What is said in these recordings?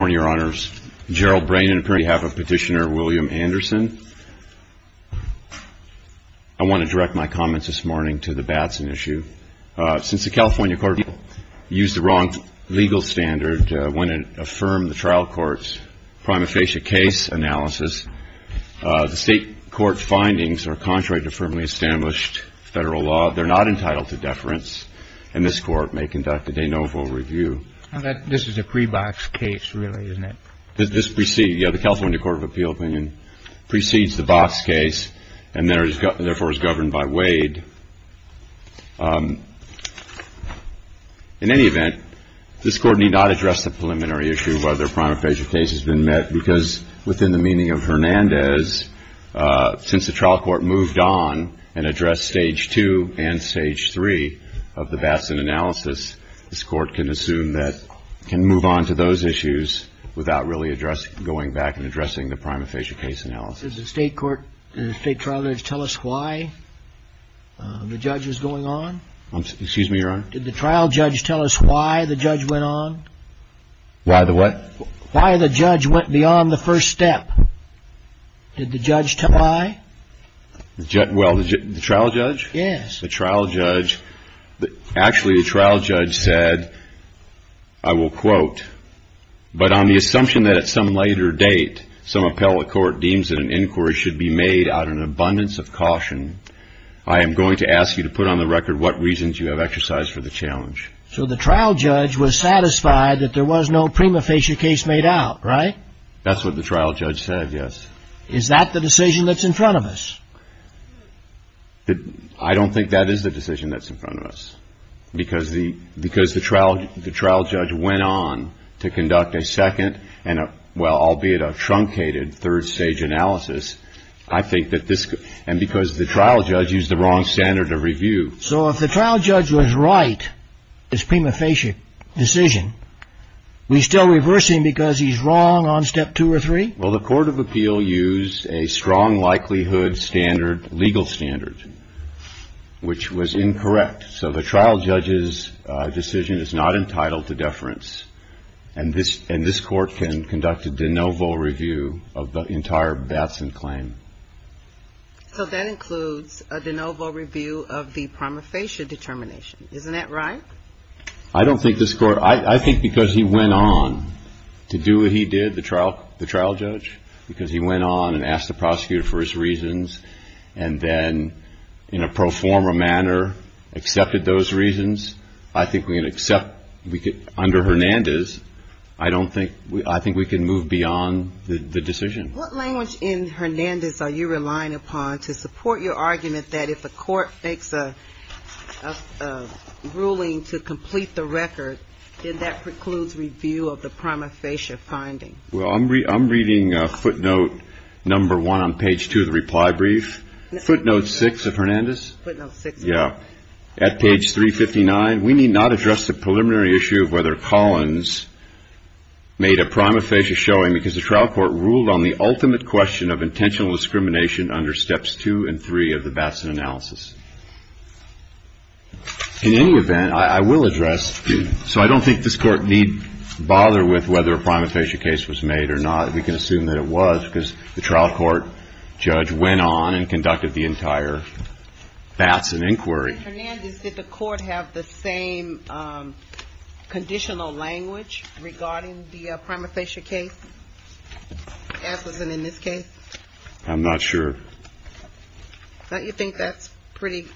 I want to direct my comments this morning to the Batson issue. Since the California Court of Appeals used the wrong legal standard when it affirmed the trial court's prima facie case analysis, the state court's findings are contrary to firmly established federal law. They're not entitled to deference, and this court may conduct a de novo review. This is a pre-box case, really, isn't it? This precedes, yeah, the California Court of Appeals opinion precedes the box case and therefore is governed by Wade. In any event, this Court need not address the preliminary issue whether a prima facie case has been met because within the meaning of Hernandez, since the trial court moved on and addressed stage 2 and stage 3 of the Batson analysis, this Court can assume that it can move on to those issues without really going back and addressing the prima facie case analysis. Did the state trial judge tell us why the judge was going on? Excuse me, Your Honor? Did the trial judge tell us why the judge went on? Why the what? Why the judge went beyond the first step. Did the judge tell why? Well, the trial judge? Yes. So the trial judge was satisfied that there was no prima facie case made out, right? That's what the trial judge said, yes. Is that the decision that's in front of us? I don't think that is the decision that's in front of us. Because the trial judge went on to conduct a second and, well, albeit a truncated third stage analysis, I think that this, and because the trial judge used the wrong standard of review. So if the trial judge was right, his prima facie decision, we still reverse him because he's wrong on step 2 or 3? Well, the court of appeal used a strong likelihood standard, legal standard, which was incorrect. So the trial judge's decision is not entitled to deference. And this court conducted de novo review of the entire Batson claim. So that includes a de novo review of the prima facie determination. Isn't that right? I don't think this court, I think because he went on to do what he did, the trial judge, because he went on and asked the prosecutor for his reasons, and then in a pro forma manner accepted those reasons, I think we can accept, under Hernandez, I don't think, I think we can move beyond the decision. What language in Hernandez are you relying upon to support your argument that if a court makes a ruling to complete the record, then that precludes review of the prima facie finding? Well, I'm reading footnote number 1 on page 2 of the reply brief. Footnote 6 of Hernandez? Footnote 6. Yeah. At page 359, we need not address the preliminary issue of whether Collins made a prima facie showing, because the trial court ruled on the ultimate question of intentional discrimination under steps 2 and 3 of the Batson analysis. In any event, I will address, so I don't think this court need bother with whether a prima facie case was made or not. We can assume that it was because the trial court judge went on and conducted the entire Batson inquiry. Mr. Hernandez, did the court have the same conditional language regarding the prima facie case as was in this case? I'm not sure. Don't you think that's pretty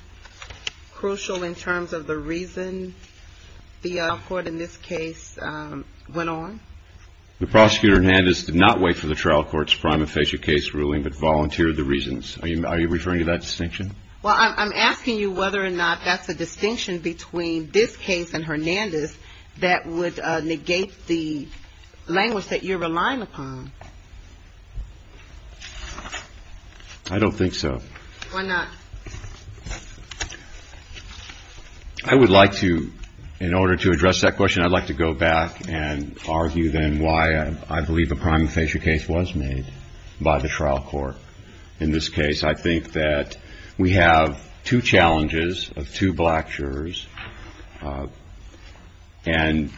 crucial in terms of the reason the trial court in this case went on? The prosecutor, Hernandez, did not wait for the trial court's prima facie case ruling but volunteered the reasons. Are you referring to that distinction? Well, I'm asking you whether or not that's a distinction between this case and Hernandez that would negate the language that you're relying upon. I don't think so. Why not? I would like to, in order to address that question, I'd like to go back and argue then why I believe a prima facie case was made by the trial court. In this case, I think that we have two challenges of two black jurors, and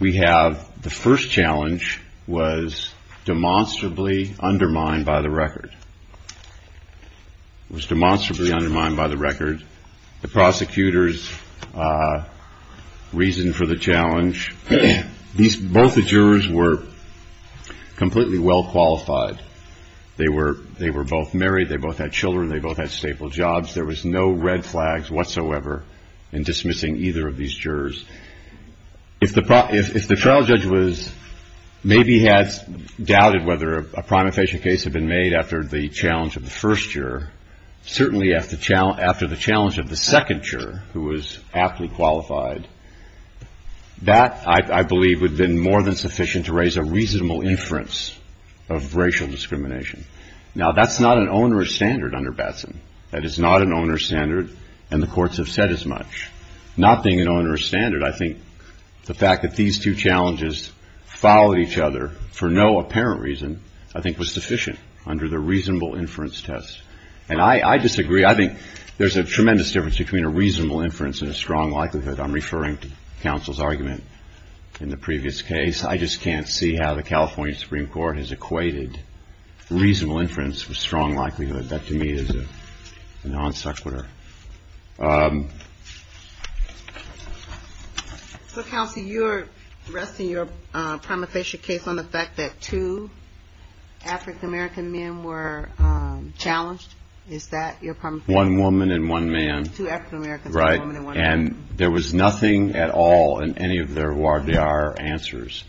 we have the first challenge was demonstrably undermined by the record. It was demonstrably undermined by the record. The prosecutors reasoned for the challenge. Both the jurors were completely well qualified. They were both married. They both had children. They both had stable jobs. There was no red flags whatsoever in dismissing either of these jurors. If the trial judge maybe had doubted whether a prima facie case had been made after the challenge of the first juror, certainly after the challenge of the second juror who was aptly qualified, that, I believe, would have been more than sufficient to raise a reasonable inference of racial discrimination. Now, that's not an onerous standard under Batson. That is not an onerous standard, and the courts have said as much. Not being an onerous standard, I think the fact that these two challenges followed each other for no apparent reason, I think was sufficient under the reasonable inference test, and I disagree. I think there's a tremendous difference between a reasonable inference and a strong likelihood. I'm referring to counsel's argument in the previous case. I just can't see how the California Supreme Court has equated reasonable inference with strong likelihood. That, to me, is a non sequitur. So, counsel, you're resting your prima facie case on the fact that two African-American men were challenged. Is that your prima facie case? One woman and one man. Two African-Americans and one woman. Right. And there was nothing at all in any of their voir dire answers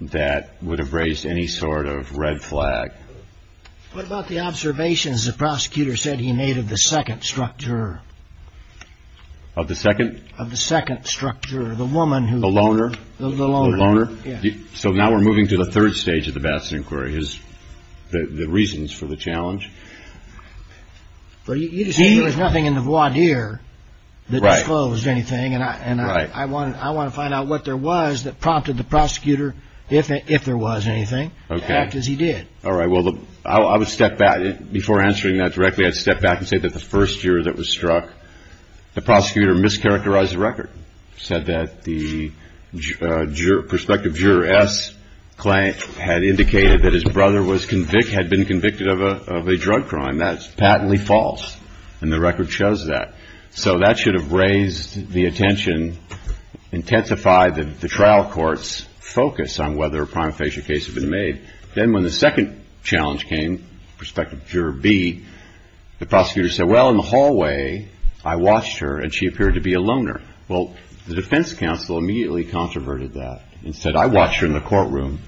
that would have raised any sort of red flag. What about the observations the prosecutor said he made of the second structure? Of the second? Of the second structure. The woman who... The loner? The loner. The loner? Yeah. So now we're moving to the third stage of the Batson inquiry, the reasons for the challenge. Well, you just said there was nothing in the voir dire that disclosed anything. Right. And I want to find out what there was that prompted the prosecutor, if there was anything, to act as he did. All right. Well, I would step back. Before answering that directly, I'd step back and say that the first juror that was struck, the prosecutor mischaracterized the record. He said that the prospective juror S had indicated that his brother had been convicted of a drug crime. That's patently false. And the record shows that. So that should have raised the attention, intensified the trial court's focus on whether a prima facie case had been made. Then when the second challenge came, prospective juror B, the prosecutor said, well, in the hallway I watched her and she appeared to be a loner. Well, the defense counsel immediately controverted that and said I watched her in the courtroom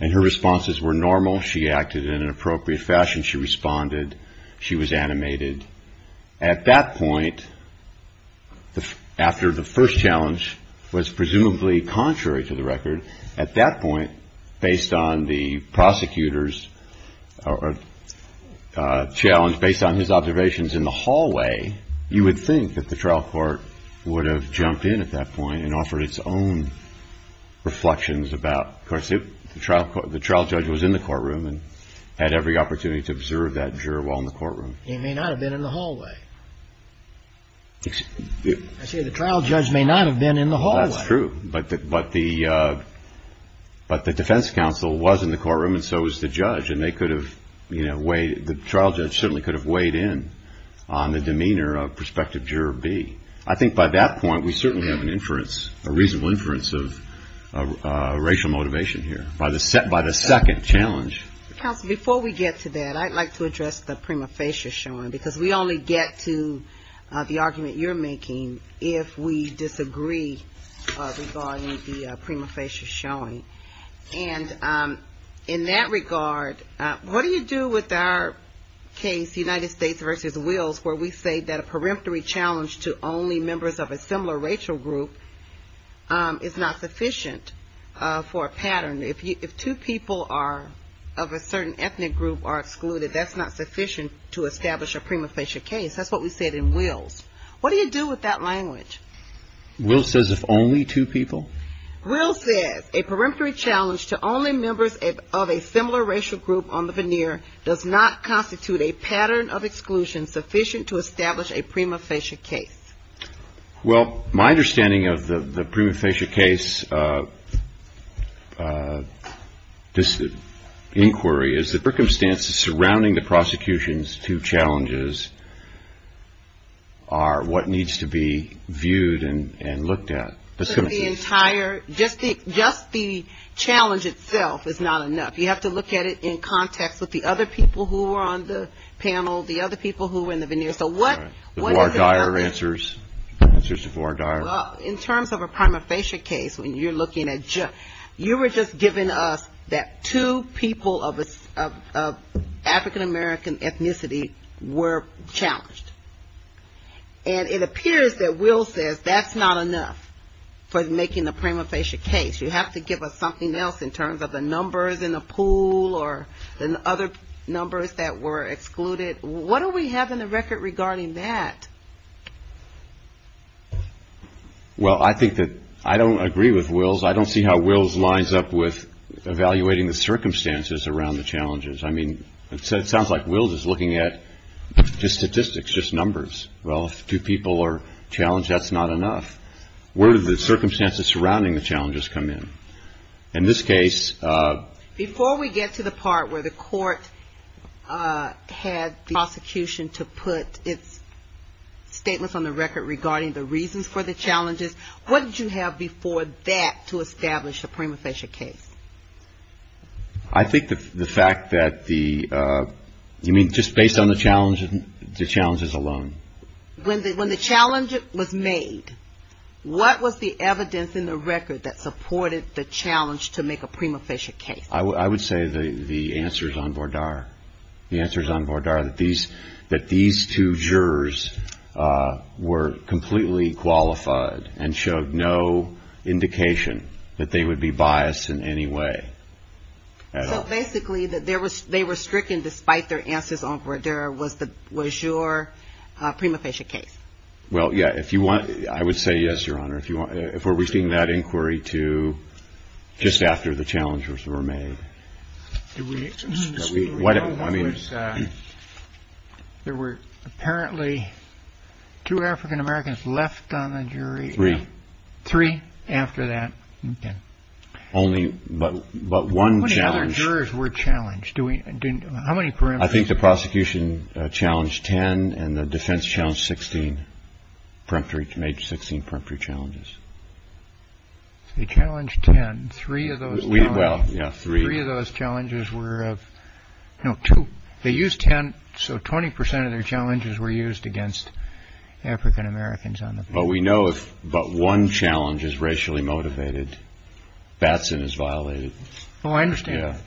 and her responses were normal. She acted in an appropriate fashion. She responded. She was animated. At that point, after the first challenge was presumably contrary to the record, at that point, based on the prosecutor's challenge, based on his observations in the hallway, you would think that the trial court would have jumped in at that point and offered its own reflections about. Of course, the trial judge was in the courtroom and had every opportunity to observe that juror while in the courtroom. He may not have been in the hallway. I say the trial judge may not have been in the hallway. That's true. But the defense counsel was in the courtroom and so was the judge. And they could have weighed, the trial judge certainly could have weighed in on the demeanor of prospective juror B. I think by that point, we certainly have an inference, a reasonable inference of racial motivation here. By the second challenge. Counsel, before we get to that, I'd like to address the prima facie showing because we only get to the argument you're making if we disagree regarding the prima facie showing. And in that regard, what do you do with our case, United States v. Wills, where we say that a peremptory challenge to only members of a similar racial group is not sufficient for a pattern? If two people are of a certain ethnic group are excluded, that's not sufficient to establish a prima facie case. That's what we said in Wills. What do you do with that language? Wills says if only two people? Wills says a peremptory challenge to only members of a similar racial group on the veneer does not constitute a pattern of exclusion sufficient to establish a prima facie case. Well, my understanding of the prima facie case inquiry is the circumstances surrounding the prosecution's two challenges are what needs to be viewed and looked at. Just the challenge itself is not enough. You have to look at it in context with the other people who were on the panel, the other people who were in the veneer. So what are the others? Well, in terms of a prima facie case, when you're looking at just, you were just giving us that two people of African American ethnicity were challenged. And it appears that Wills says that's not enough for making a prima facie case. You have to give us something else in terms of the numbers in the pool or the other numbers that were excluded. What do we have in the record regarding that? Well, I think that I don't agree with Wills. I don't see how Wills lines up with evaluating the circumstances around the challenges. I mean, it sounds like Wills is looking at just statistics, just numbers. Well, if two people are challenged, that's not enough. Where do the circumstances surrounding the challenges come in? In this case. Before we get to the part where the court had the prosecution to put its statements on the record regarding the reasons for the challenges, what did you have before that to establish a prima facie case? I think the fact that the, I mean, just based on the challenges alone. When the challenge was made, what was the evidence in the record that supported the challenge to make a prima facie case? I would say the answers on Vordar. The answers on Vordar that these two jurors were completely qualified and showed no indication that they would be biased in any way. So basically, they were stricken despite their answers on Vordar was your prima facie case? Well, yeah. If you want, I would say yes, Your Honor. If we're reaching that inquiry to just after the challenges were made. There were apparently two African-Americans left on the jury. Three. Three after that. OK. Only, but one challenge. How many other jurors were challenged? How many parameters? I think the prosecution challenged 10 and the defense challenged 16, made 16 peremptory challenges. They challenged 10. Three of those challenges were of, no, two. They used 10, so 20% of their challenges were used against African-Americans. But we know if but one challenge is racially motivated, Batson is violated. Oh, I understand.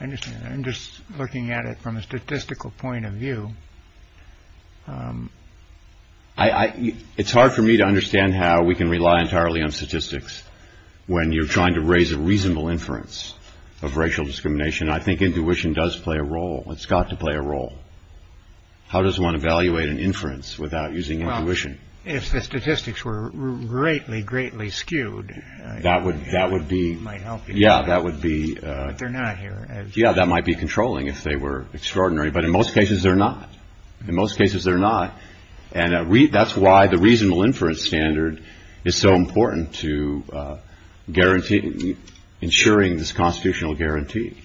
I understand. I'm just looking at it from a statistical point of view. It's hard for me to understand how we can rely entirely on statistics when you're trying to raise a reasonable inference of racial discrimination. I think intuition does play a role. It's got to play a role. How does one evaluate an inference without using intuition? If the statistics were greatly, greatly skewed, that would that would be. Yeah, that would be. They're not here. Yeah, that might be controlling if they were extraordinary. But in most cases, they're not. In most cases, they're not. And that's why the reasonable inference standard is so important to guarantee ensuring this constitutional guarantee.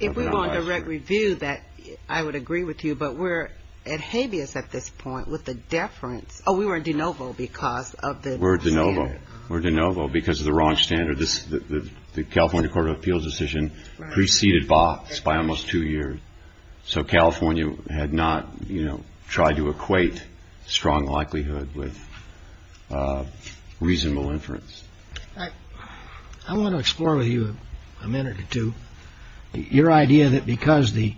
If we were on direct review, that I would agree with you. But we're at habeas at this point with the deference. Oh, we were in de novo because of the. We're de novo. We're de novo because of the wrong standard. The California Court of Appeals decision preceded Batson by almost two years. So California had not, you know, tried to equate strong likelihood with reasonable inference. I want to explore with you a minute or two. Your idea that because the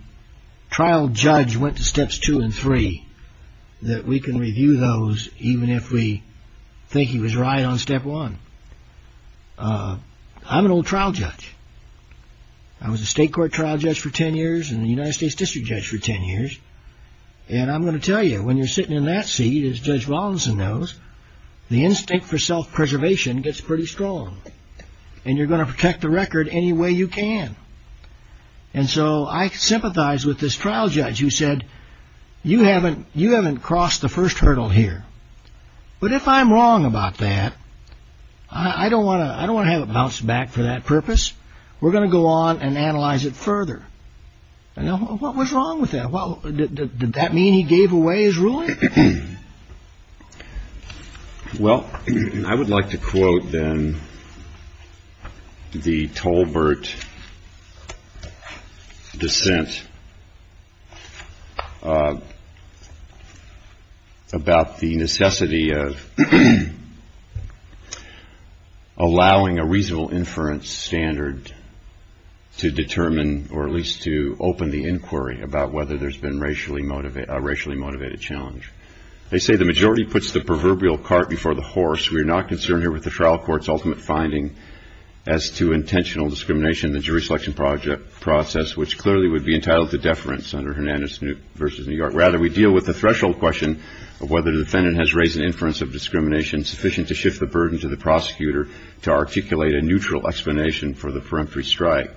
trial judge went to steps two and three, that we can review those even if we think he was right on step one. I'm an old trial judge. I was a state court trial judge for 10 years and the United States district judge for 10 years. And I'm going to tell you, when you're sitting in that seat, as Judge Robinson knows, the instinct for self-preservation gets pretty strong. And you're going to protect the record any way you can. And so I sympathize with this trial judge who said, you haven't you haven't crossed the first hurdle here. But if I'm wrong about that, I don't want to I don't want to bounce back for that purpose. We're going to go on and analyze it further. And what was wrong with that? Well, did that mean he gave away his ruling? Well, I would like to quote then the Tolbert dissent about the necessity of allowing a reasonable inference standard to determine or at least to open the inquiry about whether there's been a racially motivated challenge. They say the majority puts the proverbial cart before the horse. We are not concerned here with the trial court's ultimate finding as to intentional discrimination in the jury selection process, which clearly would be entitled to deference under Hernandez v. New York. Rather, we deal with the threshold question of whether the defendant has raised an inference of discrimination sufficient to shift the burden to the prosecutor to articulate a neutral explanation for the peremptory strike.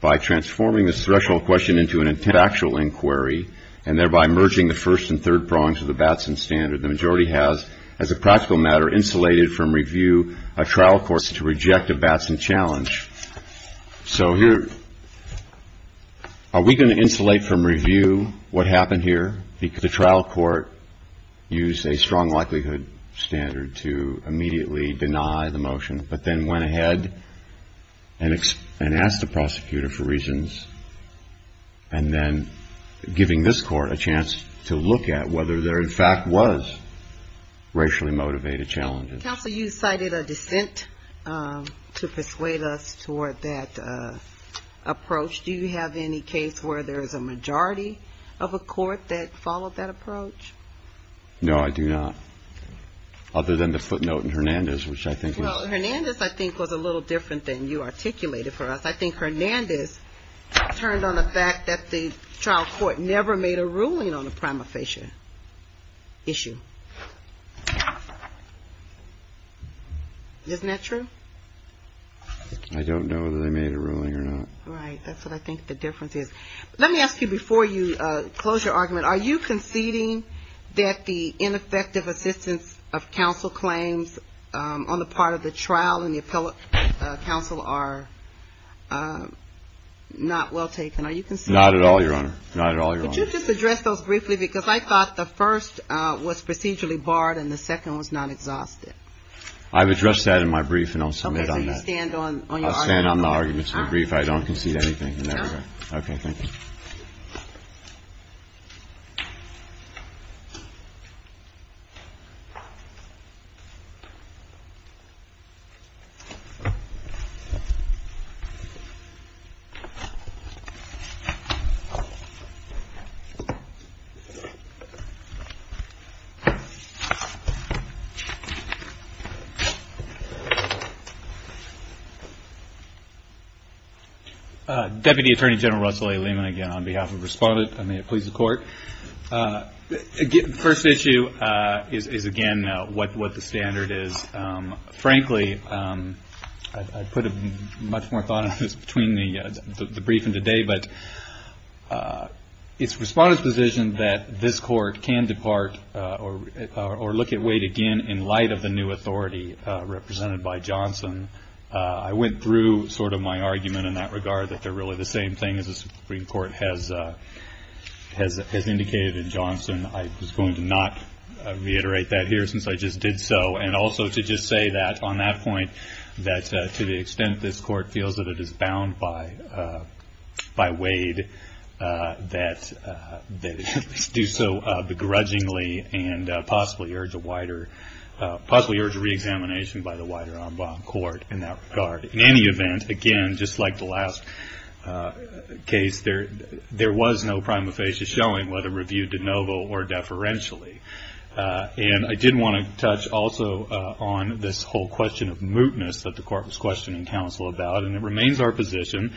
By transforming this threshold question into an intentional inquiry and thereby merging the first and third prongs of the Batson standard, the majority has, as a practical matter, insulated from review a trial court's decision to reject a Batson challenge. So here are we going to insulate from review what happened here? The trial court used a strong likelihood standard to immediately deny the motion, but then went ahead and asked the prosecutor for reasons and then giving this court a chance to look at whether there, in fact, was racially motivated challenges. Counsel, you cited a dissent to persuade us toward that approach. Do you have any case where there is a majority of a court that followed that approach? No, I do not. Other than the footnote in Hernandez, which I think was a little different than you articulated for us. I think Hernandez turned on the fact that the trial court never made a ruling on a prima facie issue. Isn't that true? I don't know whether they made a ruling or not. Right. That's what I think the difference is. Let me ask you before you close your argument, are you conceding that the ineffective assistance of counsel claims on the part of the trial and the appellate counsel are not well taken? Are you conceding that? Not at all, Your Honor. Not at all, Your Honor. Could you just address those briefly? Because I thought the first was procedurally barred and the second was not exhausted. I've addressed that in my brief and I'll submit on that. Okay. So you stand on your argument? I'll stand on the arguments in the brief. I don't concede anything in that regard. Okay. Thank you. Deputy Attorney General Russell A. Lehman again on behalf of the Respondent. May it please the Court. The first issue is again what the standard is. Frankly, I put much more thought into this between the brief and today, but it's Respondent's position that this Court can depart or look at weight again in light of the new authority represented by Johnson. I went through sort of my argument in that regard that they're really the same thing as the Supreme Court has indicated in Johnson. I was going to not reiterate that here since I just did so, and also to just say that on that point that to the extent this Court feels that it is bound by Wade, that they do so begrudgingly and possibly urge a reexamination by the wider en banc court in that regard. In any event, again, just like the last case, there was no prima facie showing whether reviewed de novo or deferentially. I did want to touch also on this whole question of mootness that the Court was questioning counsel about, and it remains our position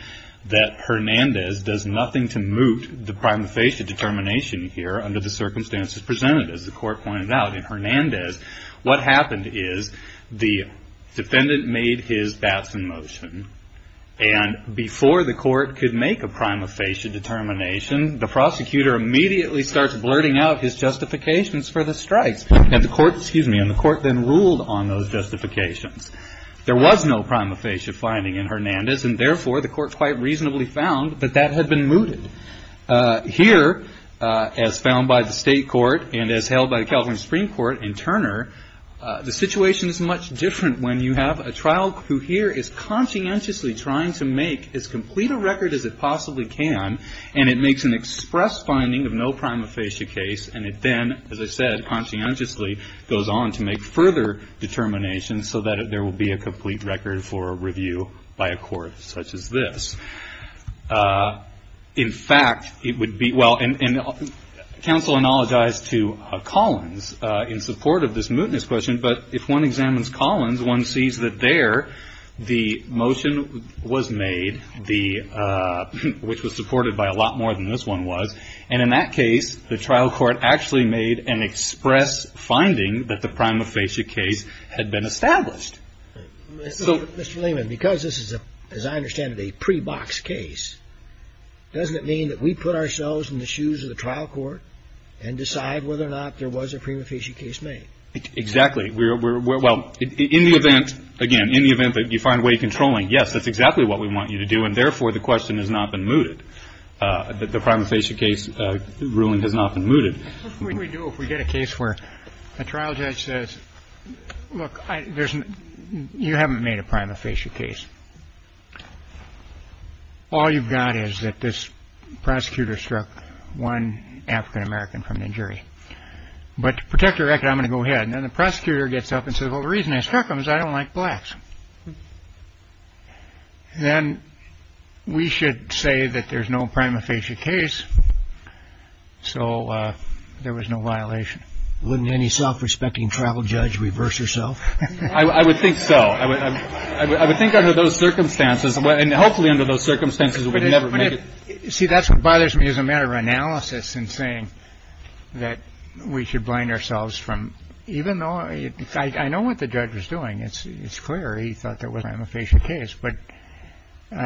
that Hernandez does nothing to moot the prima facie determination here under the circumstances presented, as the Court pointed out. In Hernandez, what happened is the defendant made his Batson motion, and before the Court could make a prima facie determination, the prosecutor immediately starts blurting out his justifications for the strikes, and the Court then ruled on those justifications. There was no prima facie finding in Hernandez, and therefore the Court quite reasonably found that that had been mooted. Here, as found by the State Court and as held by the California Supreme Court in Turner, the situation is much different when you have a trial who here is conscientiously trying to make as complete a record as it possibly can, and it makes an express finding of no prima facie case, and it then, as I said, conscientiously goes on to make further determinations so that there will be a complete record for review by a court such as this. In fact, it would be well, and counsel apologized to Collins in support of this mootness question, but if one examines Collins, one sees that there the motion was made, which was supported by a lot more than this one was, and in that case the trial court actually made an express finding that the prima facie case had been established. Mr. Lehman, because this is, as I understand it, a pre-box case, doesn't it mean that we put ourselves in the shoes of the trial court and decide whether or not there was a prima facie case made? Exactly. Well, in the event, again, in the event that you find way of controlling, yes, that's exactly what we want you to do, and therefore the question has not been mooted, that the prima facie case ruling has not been mooted. What can we do if we get a case where a trial judge says, look, you haven't made a prima facie case. All you've got is that this prosecutor struck one African-American from the jury. But to protect your record, I'm going to go ahead. And then the prosecutor gets up and says, well, the reason I struck him is I don't like blacks. Then we should say that there's no prima facie case. So there was no violation. Wouldn't any self-respecting trial judge reverse herself? I would think so. I would think under those circumstances and hopefully under those circumstances, we'd never make it. You see, that's what bothers me as a matter of analysis and saying that we should blind ourselves from even though I know what the judge was doing. It's clear he thought there was a prima facie case. But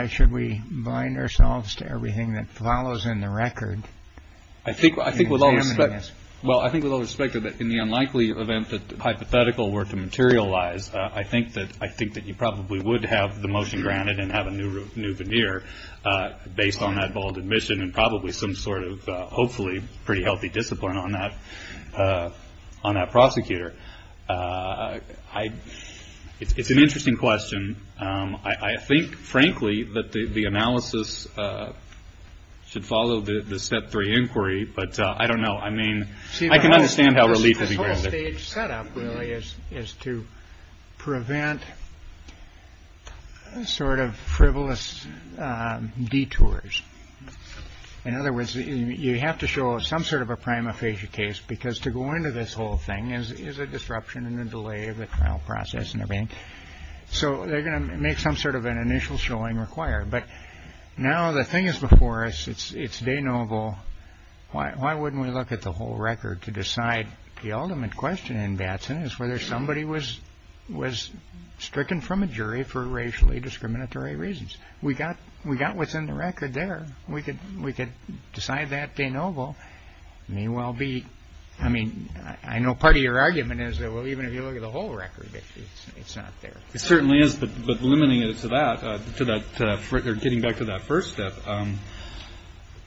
should we bind ourselves to everything that follows in the record? I think I think with all this. Well, I think with all respect to that, in the unlikely event that hypothetical were to materialize. I think that I think that you probably would have the motion granted and have a new new veneer based on that bold admission and probably some sort of hopefully pretty healthy discipline on that on that prosecutor. I. It's an interesting question. I think, frankly, that the analysis should follow the step three inquiry. But I don't know. I mean, I can understand how relief is to prevent. Sort of frivolous detours. In other words, you have to show some sort of a prima facie case because to go into this whole thing is a disruption in the delay of the trial process and everything. So they're going to make some sort of an initial showing required. But now the thing is before us. It's day noble. Why? Why wouldn't we look at the whole record to decide? The ultimate question in Batson is whether somebody was was stricken from a jury for racially discriminatory reasons. We got we got what's in the record there. We could we could decide that day. Noble may well be. I mean, I know part of your argument is that, well, even if you look at the whole record, it's not there. It certainly is. But limiting it to that, to that record, getting back to that first step,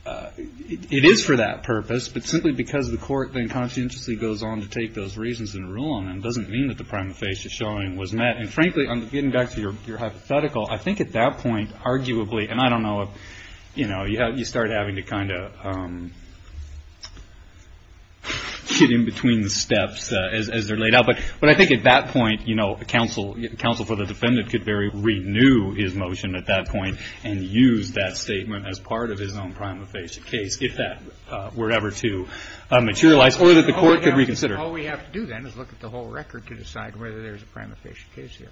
it is for that purpose. But simply because the court then conscientiously goes on to take those reasons and rule on them doesn't mean that the prima facie showing was met. And frankly, I'm getting back to your hypothetical. I think at that point, arguably, and I don't know if, you know, you start having to kind of get in between the steps as they're laid out. But but I think at that point, you know, a counsel counsel for the defendant could very renew his motion at that point and use that statement as part of his own prima facie case if that were ever to materialize or that the court could reconsider. All we have to do then is look at the whole record to decide whether there is a prima facie case here.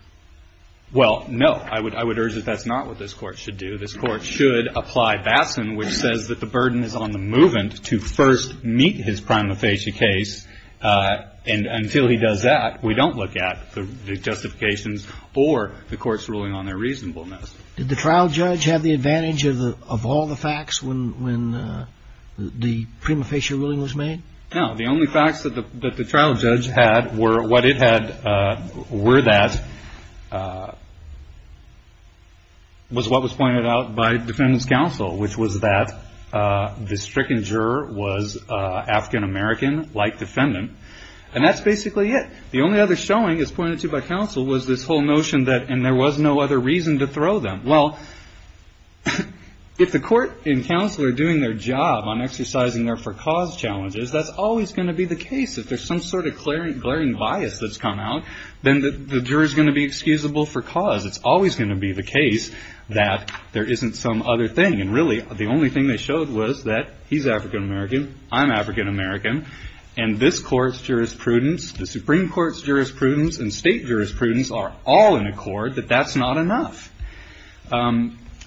Well, no, I would I would urge that that's not what this court should do. This court should apply Batson, which says that the burden is on the movement to first meet his prima facie case. And until he does that, we don't look at the justifications or the court's ruling on their reasonableness. Did the trial judge have the advantage of the of all the facts when when the prima facie ruling was made? Now, the only facts that the trial judge had were what it had were that. And that was what was pointed out by defendants counsel, which was that the stricken juror was African-American like defendant. And that's basically it. The only other showing is pointed to by counsel was this whole notion that and there was no other reason to throw them. Well, if the court and counsel are doing their job on exercising their for cause challenges, that's always going to be the case. If there's some sort of clearing, glaring bias that's come out, then the juror is going to be excusable for cause. It's always going to be the case that there isn't some other thing. And really, the only thing they showed was that he's African-American. I'm African-American. And this court's jurisprudence, the Supreme Court's jurisprudence and state jurisprudence are all in accord that that's not enough.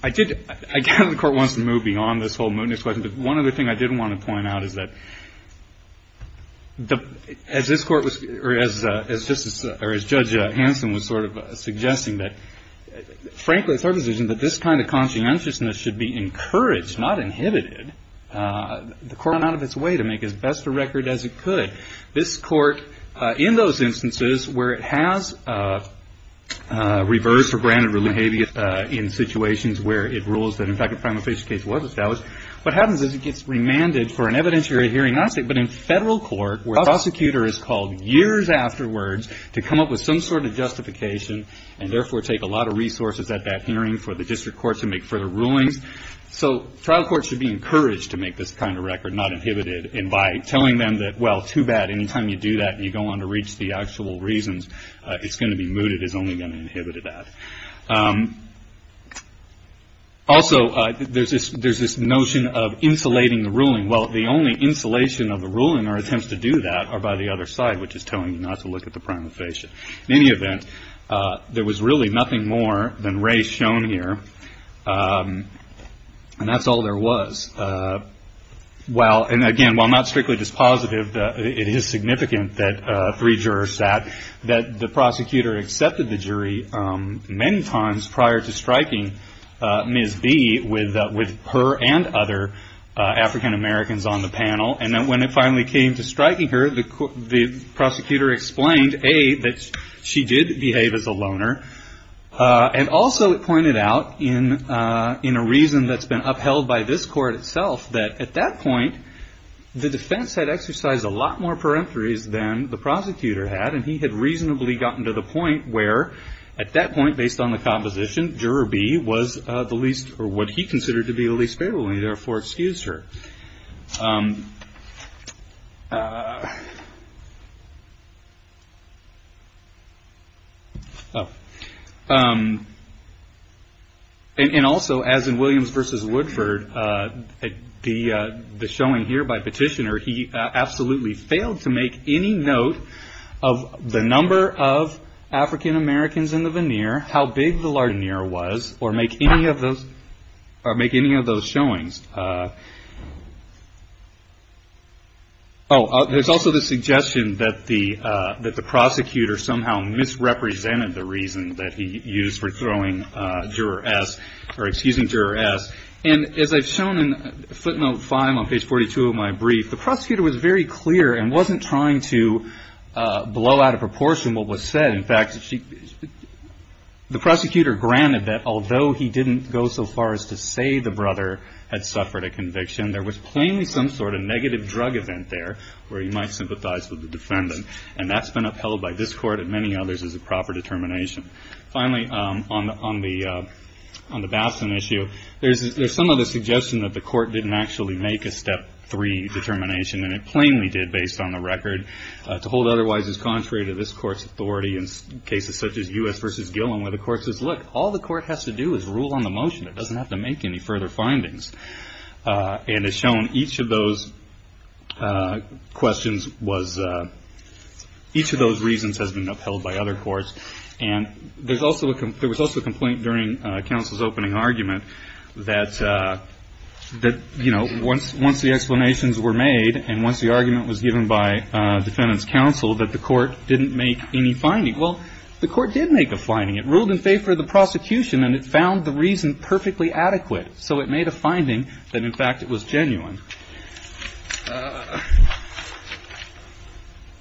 I did. I guess the court wants to move beyond this whole mootness. But one other thing I did want to point out is that as this court was or as justice or as Judge Hanson was sort of suggesting that, frankly, it's our decision that this kind of conscientiousness should be encouraged, not inhibited. The court went out of its way to make as best a record as it could. This court in those instances where it has reversed or granted relentless behavior in situations where it rules that, in fact, a crime of facial case was established, what happens is it gets remanded for an evidentiary hearing. But in federal court where a prosecutor is called years afterwards to come up with some sort of justification and therefore take a lot of resources at that hearing for the district court to make further rulings. So trial courts should be encouraged to make this kind of record, not inhibited. And by telling them that, well, too bad, any time you do that and you go on to reach the actual reasons, it's going to be mooted is only going to inhibit that. Also, there's this notion of insulating the ruling. Well, the only insulation of the ruling or attempts to do that are by the other side, which is telling you not to look at the crime of facial. In any event, there was really nothing more than race shown here, and that's all there was. Well, and again, while not strictly dispositive, it is significant that three jurors sat, that the prosecutor accepted the jury many times prior to striking Ms. B with her and other African-Americans on the panel. And when it finally came to striking her, the prosecutor explained, A, that she did behave as a loner. And also it pointed out in a reason that's been upheld by this court itself, that at that point the defense had exercised a lot more peremptories than the prosecutor had, and he had reasonably gotten to the point where, at that point, based on the composition, juror B was what he considered to be the least favorable, and he therefore excused her. And also, as in Williams v. Woodford, the showing here by petitioner, he absolutely failed to make any note of the number of African-Americans in the veneer, how big the lardoneer was, or make any of those showings. Oh, there's also the suggestion that the prosecutor somehow misrepresented the reason that he used for throwing juror S, or excusing juror S. And as I've shown in footnote 5 on page 42 of my brief, the prosecutor was very clear and wasn't trying to blow out of proportion what was said. In fact, the prosecutor granted that although he didn't go so far as to say the brother had suffered a conviction, there was plainly some sort of negative drug event there where he might sympathize with the defendant. And that's been upheld by this court and many others as a proper determination. There's some of the suggestion that the court didn't actually make a step three determination, and it plainly did based on the record, to hold otherwise as contrary to this court's authority in cases such as U.S. v. Gillen, where the court says, look, all the court has to do is rule on the motion. It doesn't have to make any further findings. And as shown, each of those questions was, each of those reasons has been upheld by other courts. And there was also a complaint during counsel's opening argument that, you know, once the explanations were made, and once the argument was given by defendant's counsel, that the court didn't make any finding. Well, the court did make a finding. It ruled in favor of the prosecution, and it found the reason perfectly adequate. So it made a finding that, in fact, it was genuine.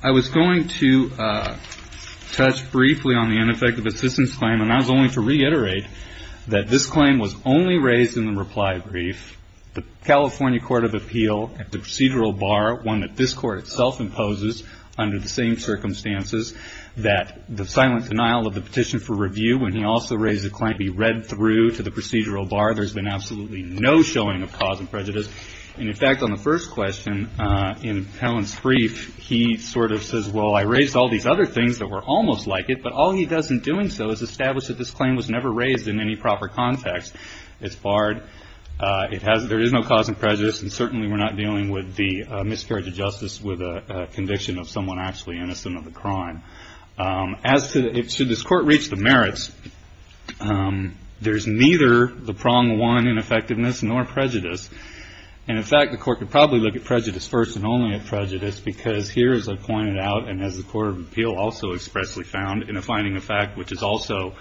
I was going to touch briefly on the ineffective assistance claim, and I was only to reiterate that this claim was only raised in the reply brief. The California Court of Appeal at the procedural bar, one that this court itself imposes under the same circumstances, that the silent denial of the petition for review, when he also raised the claim, be read through to the procedural bar. There's been absolutely no showing of cause and prejudice. And, in fact, on the first question, in Helen's brief, he sort of says, well, I raised all these other things that were almost like it, but all he does in doing so is establish that this claim was never raised in any proper context. It's barred. There is no cause and prejudice, and certainly we're not dealing with the miscarriage of justice with a conviction of someone actually innocent of a crime. As to should this court reach the merits, there's neither the prong one in effectiveness nor prejudice. And, in fact, the court could probably look at prejudice first and only at prejudice, because here, as I pointed out, and as the Court of Appeal also expressly found in a finding of fact, which is also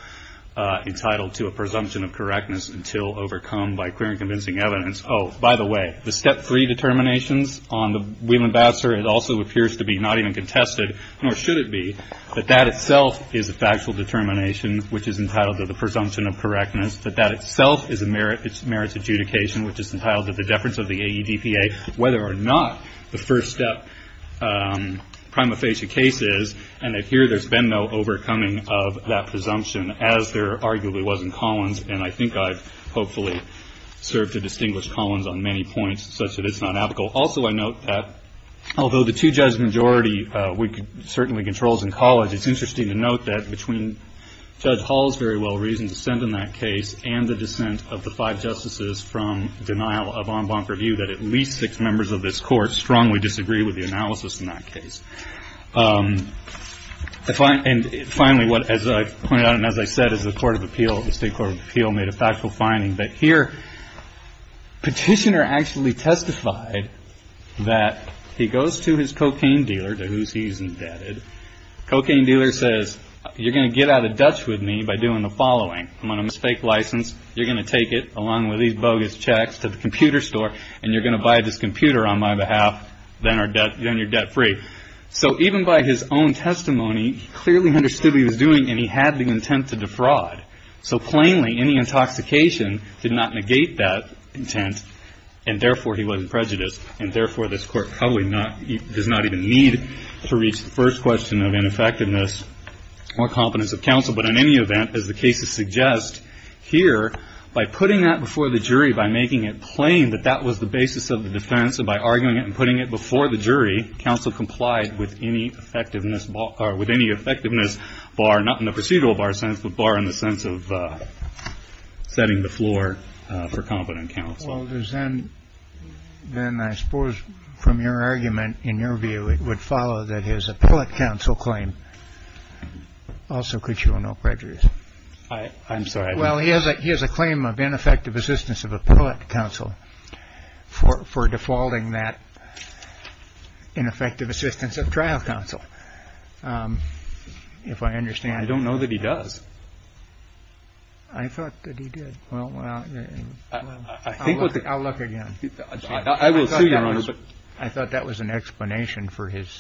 entitled to a presumption of correctness until overcome by clear and convincing evidence. Oh, by the way, the step three determinations on the Wheel Ambassador, it also appears to be not even contested, nor should it be, that that itself is a factual determination, which is entitled to the presumption of correctness, that that itself is a merits adjudication, which is entitled to the deference of the AEDPA, whether or not the first step prima facie case is, and that here there's been no overcoming of that presumption, as there arguably was in Collins, and I think I've hopefully served to distinguish Collins on many points, such that it's not applicable. Also, I note that although the two-judge majority certainly controls in College, it's interesting to note that between Judge Hall's very well-reasoned dissent in that case and the dissent of the five justices from denial of en banc review, that at least six members of this Court strongly disagree with the analysis in that case. And finally, as I pointed out and as I said, as the State Court of Appeal made a factual finding, that here Petitioner actually testified that he goes to his cocaine dealer, to whose he's indebted, cocaine dealer says, you're going to get out of Dutch with me by doing the following. I'm going to give you this fake license. You're going to take it, along with these bogus checks, to the computer store, and you're going to buy this computer on my behalf, then you're debt-free. So even by his own testimony, he clearly understood what he was doing, and he had the intent to defraud. So plainly, any intoxication did not negate that intent, and therefore he wasn't prejudiced, and therefore this Court probably does not even need to reach the first question of ineffectiveness or competence of counsel. But in any event, as the cases suggest here, by putting that before the jury, by making it plain that that was the basis of the defense, and by arguing it and putting it before the jury, counsel complied with any effectiveness bar, not in the procedural bar sense, but bar in the sense of setting the floor for competent counsel. Well, then I suppose from your argument, in your view, it would follow that his appellate counsel claim also could show no prejudice. I'm sorry. Well, he has a he has a claim of ineffective assistance of appellate counsel for defaulting that ineffective assistance of trial counsel. If I understand, I don't know that he does. I thought that he did. Well, I'll look again. I will, too, Your Honor. I thought that was an explanation for his.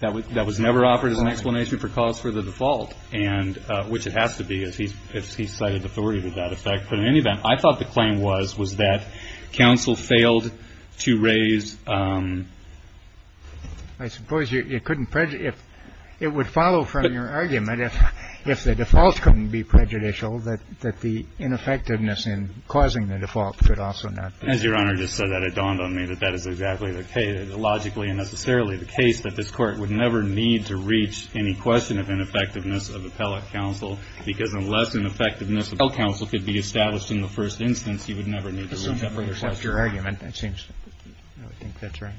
That was never offered as an explanation for cause for the default, and which it has to be, as he cited authority to that effect. But in any event, I thought the claim was, was that counsel failed to raise. I suppose you couldn't prejudice. It would follow from your argument, if the default couldn't be prejudicial, that the ineffectiveness in causing the default could also not be. As Your Honor just said, that it dawned on me that that is exactly the case, logically and necessarily the case, that this Court would never need to reach any question of ineffectiveness of appellate counsel, because unless ineffectiveness of appellate counsel could be established in the first instance, you would never need to reach that further question. That's your argument, it seems. I think that's right.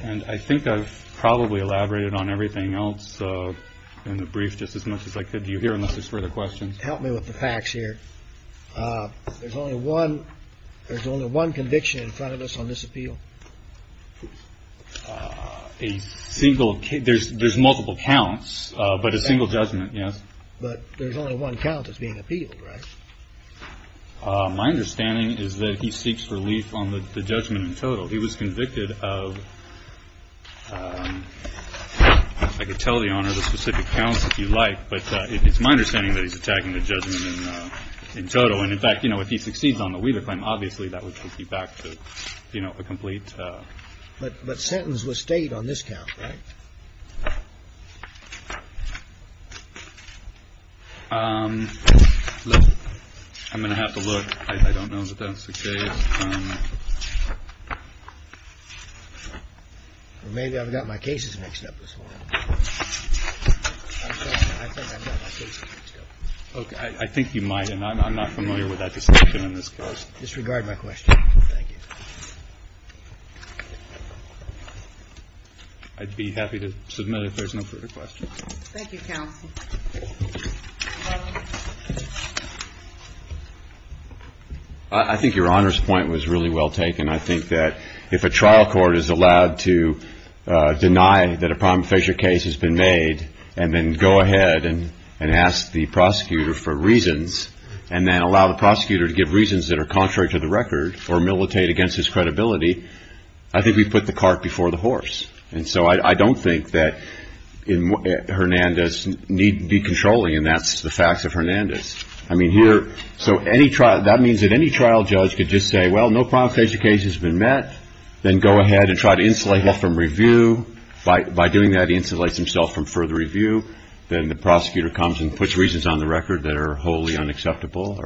And I think I've probably elaborated on everything else in the brief just as much as I could. Do you hear unless there's further questions? Help me with the facts here. There's only one. There's only one conviction in front of us on this appeal. A single case. There's there's multiple counts, but a single judgment. Yes. But there's only one count that's being appealed, right? My understanding is that he seeks relief on the judgment in total. He was convicted of, I could tell the Honor the specific counts if you like, but it's my understanding that he's attacking the judgment in total. And, in fact, you know, if he succeeds on the Weaver claim, obviously that would take you back to, you know, a complete. But sentence was state on this count, right? I'm going to have to look. I don't know that that's the case. Maybe I've got my cases mixed up this morning. Okay. I think you might. And I'm not familiar with that distinction in this case. Disregard my question. Thank you. I'd be happy to submit if there's no further questions. Thank you, counsel. I think your Honor's point was really well taken. I think that if a trial court is allowed to deny that a prima facie case has been made and then go ahead and ask the prosecutor for reasons and then allow the prosecutor to give reasons that are contrary to the record or militate against his credibility, I think we've put the cart before the horse. And so I don't think that Hernandez need be controlling, and that's the facts of Hernandez. I mean, here, so any trial, that means that any trial judge could just say, well, no prima facie case has been met, then go ahead and try to insulate from review. By doing that, insulates himself from further review. Then the prosecutor comes and puts reasons on the record that are wholly unacceptable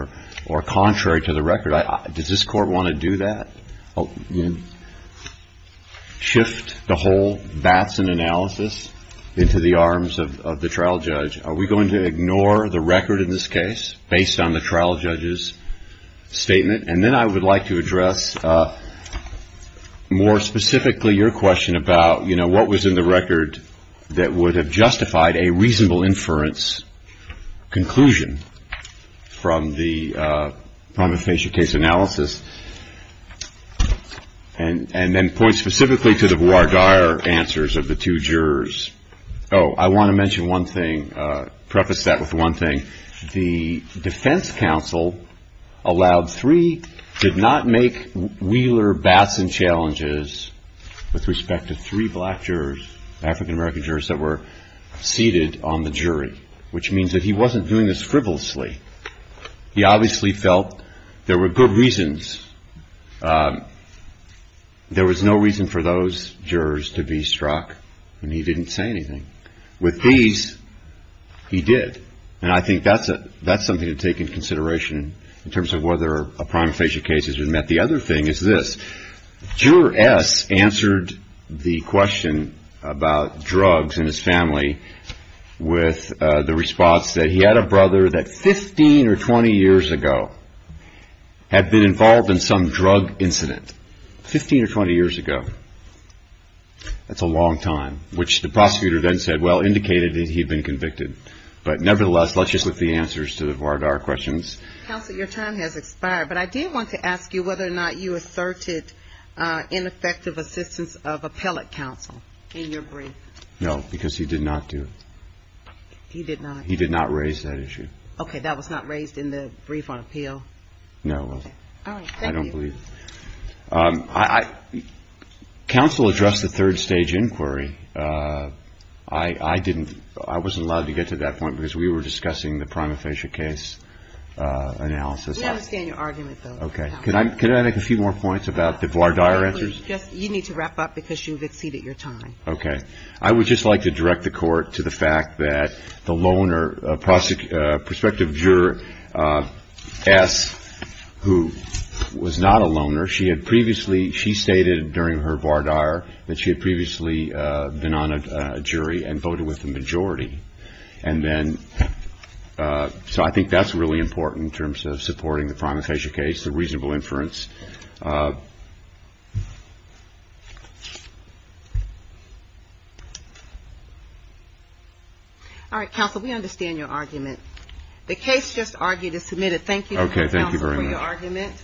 or contrary to the record. Does this court want to do that? Shift the whole bats and analysis into the arms of the trial judge? Are we going to ignore the record in this case based on the trial judge's statement? And then I would like to address more specifically your question about, you know, what was in the record that would have justified a reasonable inference conclusion from the prima facie case analysis. And then point specifically to the voir dire answers of the two jurors. Oh, I want to mention one thing, preface that with one thing. The defense counsel allowed three, did not make Wheeler bats and challenges with respect to three black jurors, African-American jurors that were seated on the jury, which means that he wasn't doing this frivolously. He obviously felt there were good reasons. There was no reason for those jurors to be struck, and he didn't say anything. With these, he did. And I think that's something to take into consideration in terms of whether a prima facie case has been met. The other thing is this. Juror S answered the question about drugs and his family with the response that he had a brother that 15 or 20 years ago had been involved in some drug incident, 15 or 20 years ago. That's a long time, which the prosecutor then said, well, indicated that he'd been convicted. But nevertheless, let's just look the answers to the voir dire questions. Counsel, your time has expired. But I do want to ask you whether or not you asserted ineffective assistance of appellate counsel in your brief. No, because he did not do it. He did not. He did not raise that issue. Okay. That was not raised in the brief on appeal. No. I don't believe. Counsel addressed the third stage inquiry. I didn't. I wasn't allowed to get to that point because we were discussing the prima facie case analysis. We understand your argument, though. Okay. Can I make a few more points about the voir dire answers? You need to wrap up because you've exceeded your time. Okay. I would just like to direct the court to the fact that the loaner, prospective juror S, who was not a loaner, she had previously, she stated during her voir dire that she had previously been on a jury and voted with the majority. And then, so I think that's really important in terms of supporting the prima facie case, the reasonable inference. All right. Counsel, we understand your argument. The case just argued is submitted. Thank you, counsel, for your argument. Okay.